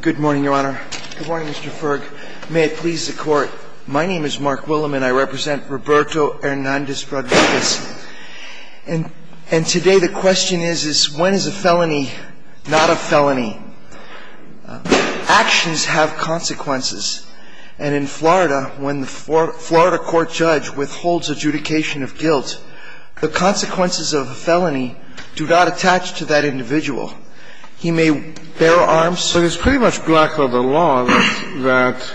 Good morning, Your Honor. Good morning, Mr. Ferg. May it please the Court, my name is Mark Willem and I represent Roberto Hernandez-Rodriguez. And today the question is, when is a felony not a felony? Actions have consequences. And in Florida, when the Florida court judge withholds adjudication of guilt, the consequences of a felony do not attach to that individual. He may bear arms. But it's pretty much black leather law that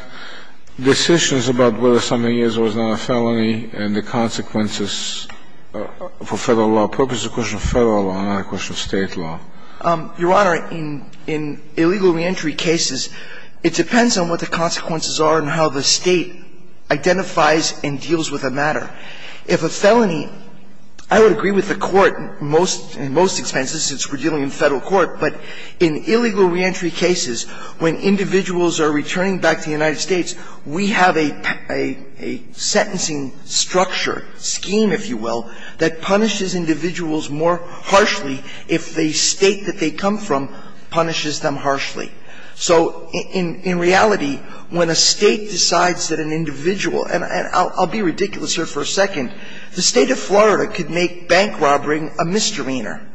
decisions about whether something is or is not a felony and the consequences for Federal law purposes is a question of Federal law, not a question of State law. Your Honor, in illegal reentry cases, it depends on what the consequences are and how the State identifies and deals with the matter. If a felony – I would agree with the Court in most expenses, since we're dealing in Federal court, but in illegal reentry cases, when individuals are returning back to the United States, we have a sentencing structure, scheme, if you will, that punishes individuals more harshly if the State that they come from punishes them harshly. So in reality, when a State decides that an individual – and I'll be ridiculous here for a second – the State of Florida could make bank robbery a misdemeanor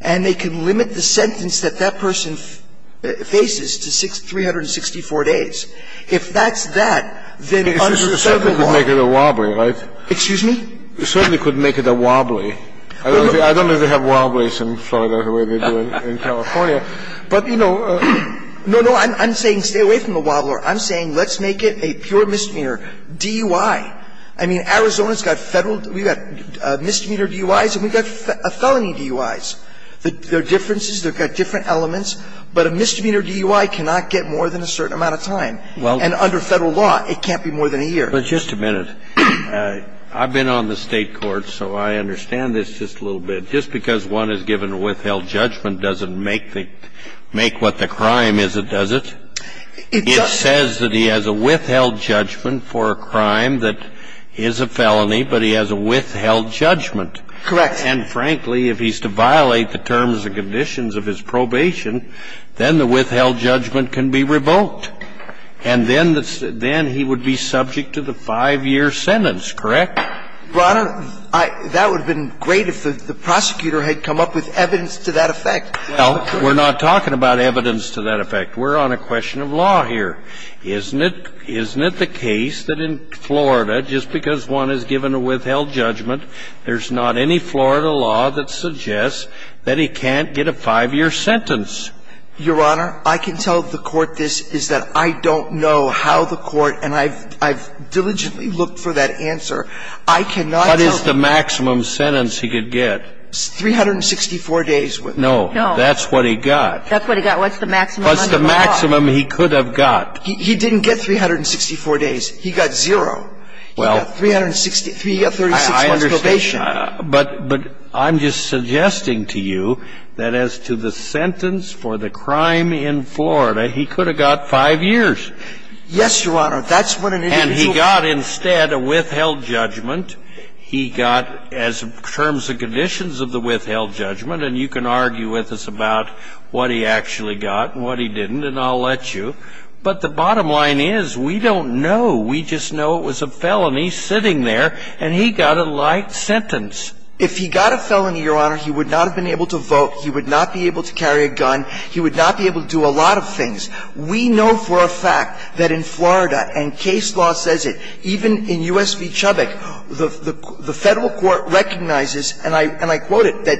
and they can limit the sentence that that person faces to 364 days. If that's that, then under Federal law – It certainly could make it a wobbly, right? Excuse me? It certainly could make it a wobbly. I don't know if they have wobblies in Florida the way they do in California. But, you know – No, no. I'm saying stay away from the wobbler. I'm saying let's make it a pure misdemeanor, DUI. I mean, Arizona's got Federal – we've got misdemeanor DUIs and we've got felony DUIs. There are differences. They've got different elements. But a misdemeanor DUI cannot get more than a certain amount of time. And under Federal law, it can't be more than a year. But just a minute. I've been on the State court, so I understand this just a little bit. Just because one is given a withheld judgment doesn't make the – make what the crime is, does it? It doesn't. Well, I'm not saying that he has a withheld judgment for a crime that is a felony, but he has a withheld judgment. Correct. And, frankly, if he's to violate the terms and conditions of his probation, then the withheld judgment can be revoked. And then he would be subject to the 5-year sentence, correct? Your Honor, that would have been great if the prosecutor had come up with evidence to that effect. Well, we're not talking about evidence to that effect. We're on a question of law here. Isn't it the case that in Florida, just because one is given a withheld judgment, there's not any Florida law that suggests that he can't get a 5-year sentence? Your Honor, I can tell the Court this, is that I don't know how the Court, and I've diligently looked for that answer. I cannot tell the Court that. What is the maximum sentence he could get? 364 days with me. No, that's what he got. That's what he got. What's the maximum under the law? What's the maximum he could have got? He didn't get 364 days. He got zero. Well. He got 36 months probation. I understand. But I'm just suggesting to you that as to the sentence for the crime in Florida, he could have got 5 years. Yes, Your Honor. That's what an individual. And he got instead a withheld judgment. He got as terms and conditions of the withheld judgment, and you can argue with us about what he actually got and what he didn't, and I'll let you. But the bottom line is, we don't know. We just know it was a felony sitting there, and he got a light sentence. If he got a felony, Your Honor, he would not have been able to vote. He would not be able to carry a gun. He would not be able to do a lot of things. We know for a fact that in Florida, and case law says it, even in U.S. v. Chubbuck, the Federal court recognizes, and I quote it, that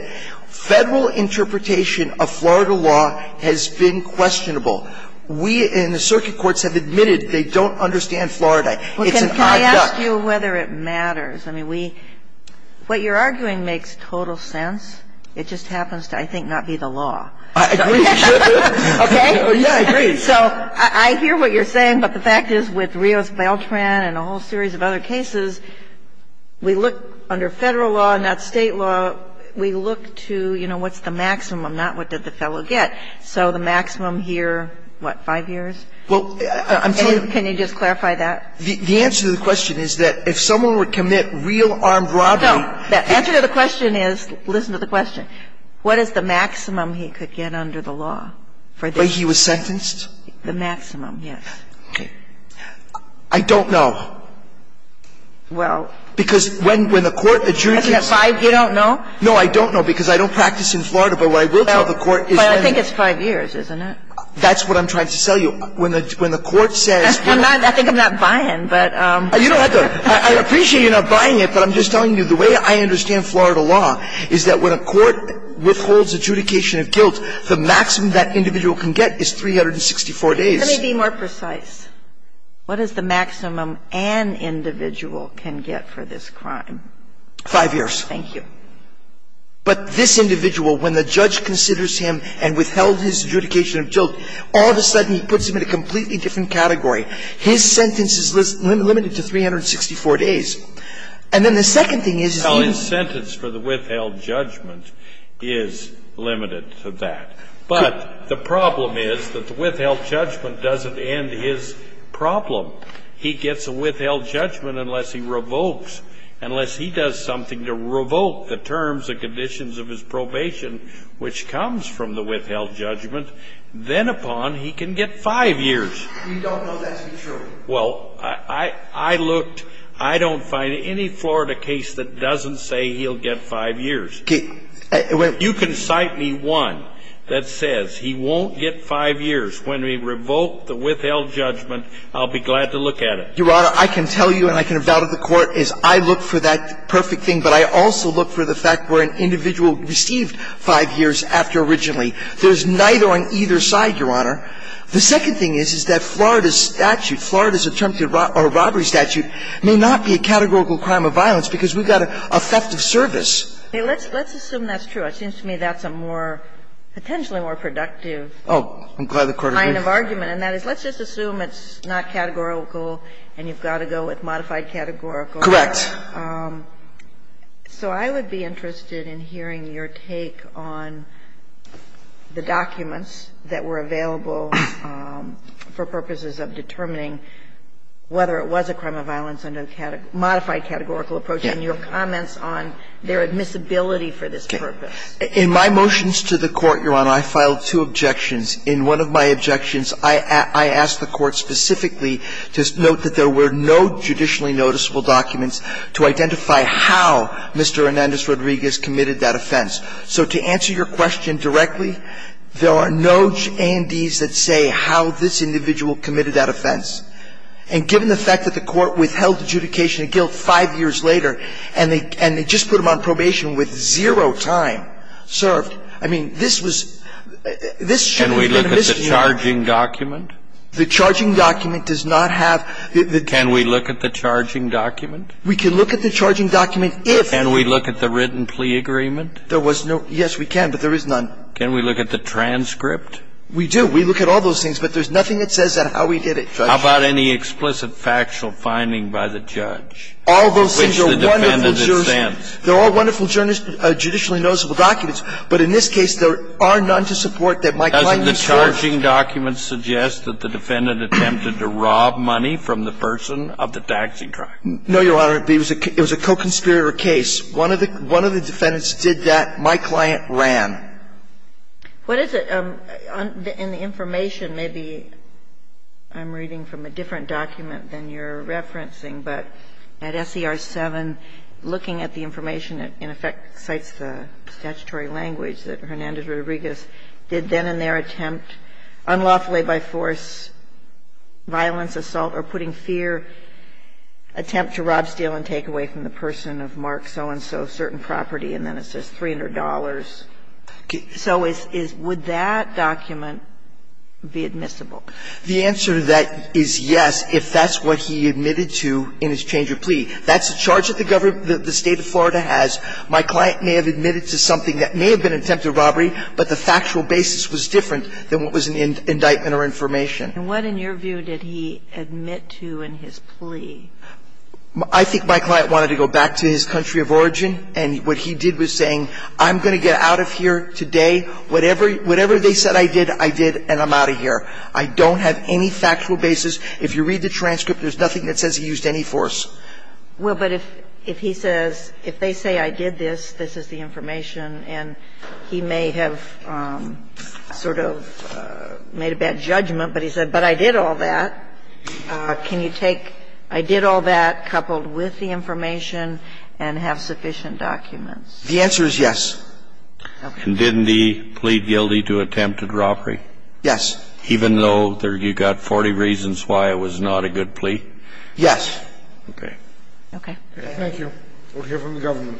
Federal interpretation of Florida law has been questionable. We in the circuit courts have admitted they don't understand Florida. It's an odd duck. Well, can I ask you whether it matters? I mean, we – what you're arguing makes total sense. It just happens to, I think, not be the law. I agree. Okay. Yeah, I agree. So I hear what you're saying, but the fact is with Rios-Beltran and a whole series of other cases, we look under Federal law, not State law, we look to, you know, what's the maximum, not what did the fellow get. So the maximum here, what, five years? Well, I'm sorry. Can you just clarify that? The answer to the question is that if someone were to commit real armed robbery No. The answer to the question is, listen to the question. What is the maximum he could get under the law for this? The way he was sentenced? The maximum, yes. Okay. I don't know. Well. Because when the court adjourns. You don't know? No, I don't know, because I don't practice in Florida. But what I will tell the court is that – But I think it's five years, isn't it? That's what I'm trying to tell you. When the court says – I think I'm not buying, but – You don't have to. I appreciate you're not buying it, but I'm just telling you the way I understand Florida law is that when a court withholds adjudication of guilt, the maximum that individual can get is 364 days. Let me be more precise. What is the maximum an individual can get for this crime? Five years. Thank you. But this individual, when the judge considers him and withheld his adjudication of guilt, all of a sudden he puts him in a completely different category. His sentence is limited to 364 days. And then the second thing is – Well, his sentence for the withheld judgment is limited to that. But the problem is that the withheld judgment doesn't end his problem. He gets a withheld judgment unless he revokes, unless he does something to revoke the terms and conditions of his probation, which comes from the withheld judgment. Then upon, he can get five years. We don't know that to be true. Well, I looked. I don't find any Florida case that doesn't say he'll get five years. You can cite me one that says he won't get five years. When we revoke the withheld judgment, I'll be glad to look at it. Your Honor, I can tell you, and I can have doubted the Court, is I look for that perfect thing, but I also look for the fact where an individual received five years after originally. There's neither on either side, Your Honor. The second thing is, is that Florida's statute, Florida's attempted robbery statute may not be a categorical crime of violence because we've got a theft of service. Let's assume that's true. It seems to me that's a more, potentially more productive kind of argument. And that is, let's just assume it's not categorical and you've got to go with modified categorical. Correct. So I would be interested in hearing your take on the documents that were available for purposes of determining whether it was a crime of violence under the modified categorical approach and your comments on their admissibility for this purpose. In my motions to the Court, Your Honor, I filed two objections. In one of my objections, I asked the Court specifically to note that there were no judicially noticeable documents to identify how Mr. Hernandez-Rodriguez committed that offense. So to answer your question directly, there are no A&Ds that say how this individual committed that offense. And given the fact that the Court withheld adjudication of guilt five years later and they just put him on probation with zero time served, I mean, this was – this shouldn't have been a misdemeanor. Can we look at the charging document? The charging document does not have the – Can we look at the charging document? We can look at the charging document if – Can we look at the written plea agreement? There was no – yes, we can, but there is none. Can we look at the transcript? We do. We look at all those things, but there's nothing that says how he did it, Judge. How about any explicit factual finding by the judge? All those things are wonderful – Which the defendant insists. They're all wonderful judicially noticeable documents. But in this case, there are none to support that my client – Doesn't the charging document suggest that the defendant attempted to rob money from the person of the taxing tribe? No, Your Honor. It was a co-conspirator case. One of the defendants did that. My client ran. What is it? In the information, maybe I'm reading from a different document than you're referencing, but at SER 7, looking at the information, it in effect cites the statutory language that Hernandez-Rodriguez did then in their attempt, unlawfully by force, violence, assault, or putting fear, attempt to rob, steal, and take away from the person of the taxing tribe. And that's a different document, because it's not just the one that says, $300 for an assault on certain property, and then it says $300. So is – would that document be admissible? The answer to that is yes, if that's what he admitted to in his change of plea. That's a charge that the government – the State of Florida has. My client may have admitted to something that may have been an attempted robbery, but the factual basis was different than what was an indictment or information. And what, in your view, did he admit to in his plea? I think my client wanted to go back to his country of origin, and what he did was saying, I'm going to get out of here today, whatever they said I did, I did, and I'm out of here. I don't have any factual basis. If you read the transcript, there's nothing that says he used any force. Well, but if he says – if they say I did this, this is the information, and he may have sort of made a bad judgment, but he said, but I did all that. Can you take, I did all that, coupled with the information, and have sufficient documents? The answer is yes. Okay. And didn't he plead guilty to attempted robbery? Yes. Even though you got 40 reasons why it was not a good plea? Yes. Okay. Okay. Thank you. We'll hear from the government.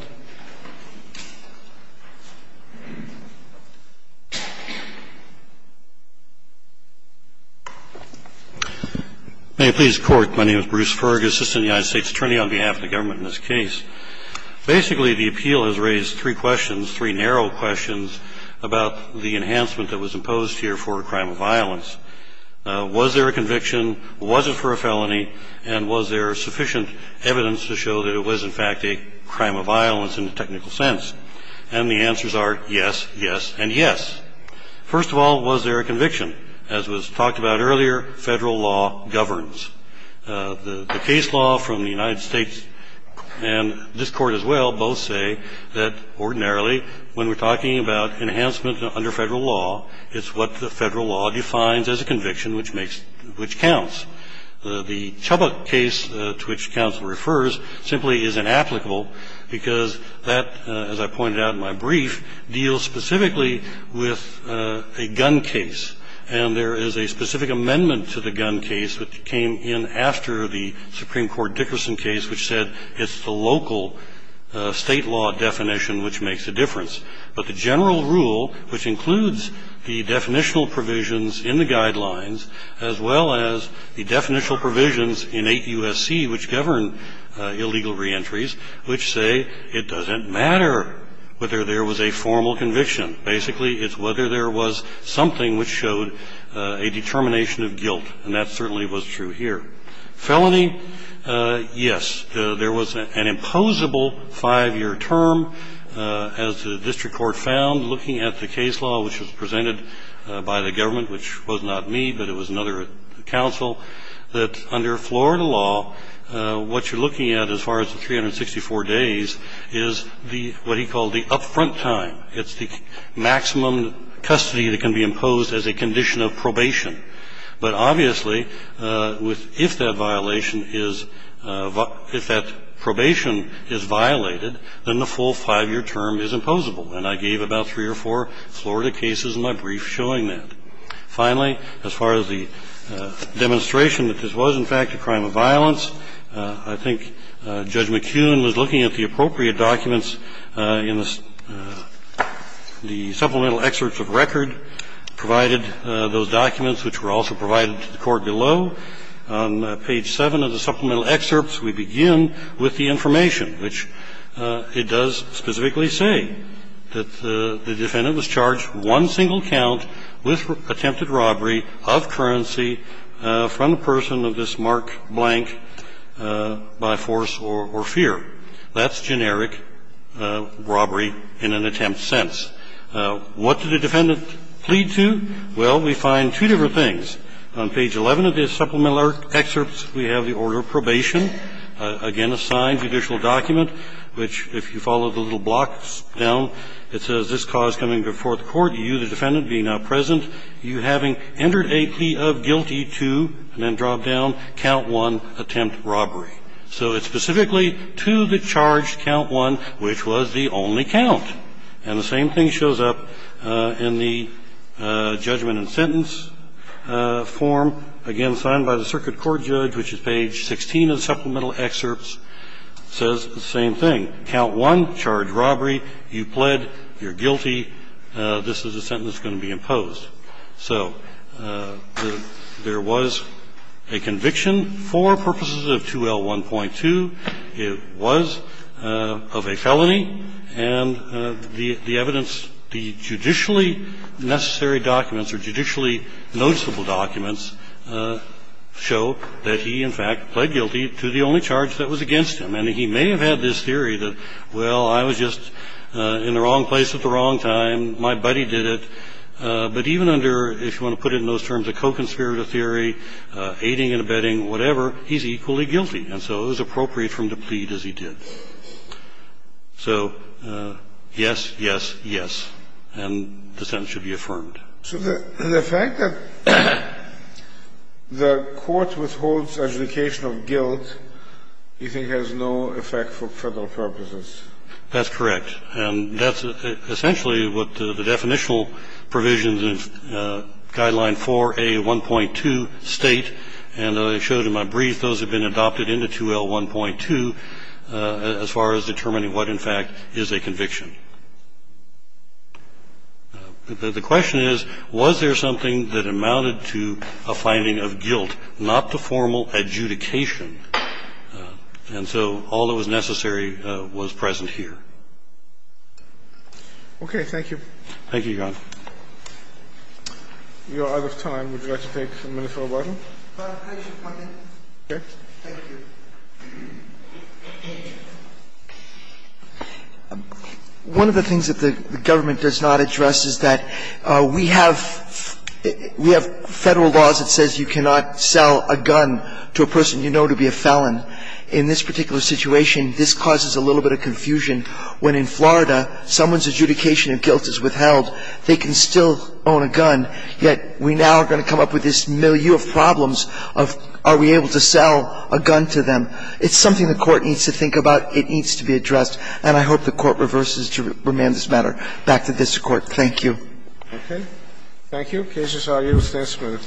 May it please the Court. My name is Bruce Fergus, Assistant United States Attorney on behalf of the government in this case. Basically, the appeal has raised three questions, three narrow questions about the enhancement that was imposed here for a crime of violence. Was there a conviction? Was it for a felony? And was there sufficient evidence to show that it was, in fact, a crime of violence in the technical sense? And the answers are yes, yes, and yes. First of all, was there a conviction? As was talked about earlier, Federal law governs. The case law from the United States and this Court as well both say that ordinarily when we're talking about enhancement under Federal law, it's what the Federal law defines as a conviction, which makes – which counts. The Chubbuck case to which counsel refers simply is inapplicable because that, as I pointed out in my brief, deals specifically with a gun case. And there is a specific amendment to the gun case that came in after the Supreme Now, the Federal law governs not only the local State law definition, which makes a difference, but the general rule, which includes the definitional provisions in the Guidelines as well as the definitional provisions in 8 U.S.C., which govern illegal reentries, which say it doesn't matter whether there was a formal conviction. Basically, it's whether there was something which showed a determination of guilt, and that certainly was true here. Felony, yes. There was an imposable 5-year term, as the district court found, looking at the case law, which was presented by the government, which was not me, but it was another counsel, that under Florida law, what you're looking at as far as the 364 days is the – what he called the upfront time. It's the maximum custody that can be imposed as a condition of probation. But obviously, with – if that violation is – if that probation is violated, then the full 5-year term is imposable. And I gave about three or four Florida cases in my brief showing that. Finally, as far as the demonstration that this was, in fact, a crime of violence, I think Judge McKeown was looking at the appropriate documents in the supplemental excerpts of record, provided those documents, which were also provided to the court below. On page 7 of the supplemental excerpts, we begin with the information, which it does specifically say that the defendant was charged one single count with attempted robbery of currency from a person of this mark blank by force or fear. That's generic robbery in an attempt sense. What did the defendant plead to? Well, we find two different things. On page 11 of the supplemental excerpts, we have the order of probation. Again, a signed judicial document, which, if you follow the little blocks down, it says this cause coming before the court, you, the defendant, be now present, you having entered a plea of guilty to, and then drop down, count one attempt robbery. So it's specifically to the charged count one, which was the only count. And the same thing shows up in the judgment and sentence form, again, signed by the circuit court judge, which is page 16 of the supplemental excerpts, says the same thing. Count one, charge robbery, you plead, you're guilty. This is a sentence going to be imposed. So there was a conviction for purposes of 2L1.2. It was of a felony, and the evidence, the judicially necessary documents or judicially noticeable documents show that he, in fact, pled guilty to the only charge that was against him. And he may have had this theory that, well, I was just in the wrong place at the wrong time, my buddy did it, but even under, if you want to put it in those terms, a co-conspirator theory, aiding and abetting, whatever, he's equally guilty. And so it was appropriate for him to plead as he did. So yes, yes, yes, and the sentence should be affirmed. So the fact that the court withholds adjudication of guilt, you think, has no effect for Federal purposes? That's correct. And that's essentially what the definitional provisions in Guideline 4A1.2 state, and I showed in my brief those have been adopted into 2L1.2 as far as determining what, in fact, is a conviction. The question is, was there something that amounted to a finding of guilt, not to formal adjudication? And so all that was necessary was present here. Okay. Thank you. Thank you, Your Honor. We are out of time. Would you like to take a minute or so, Barton? I should come in. Okay. Thank you. One of the things that the government does not address is that we have Federal laws that says you cannot sell a gun to a person you know to be a felon. In this particular situation, this causes a little bit of confusion. When in Florida, someone's adjudication of guilt is withheld, they can still own a gun, yet we now are going to come up with this milieu of problems of are we able to sell a gun to them. It's something the Court needs to think about. It needs to be addressed. And I hope the Court reverses to remand this matter. Back to the district court. Thank you. Okay. Thank you. The case is argued. The case is moved.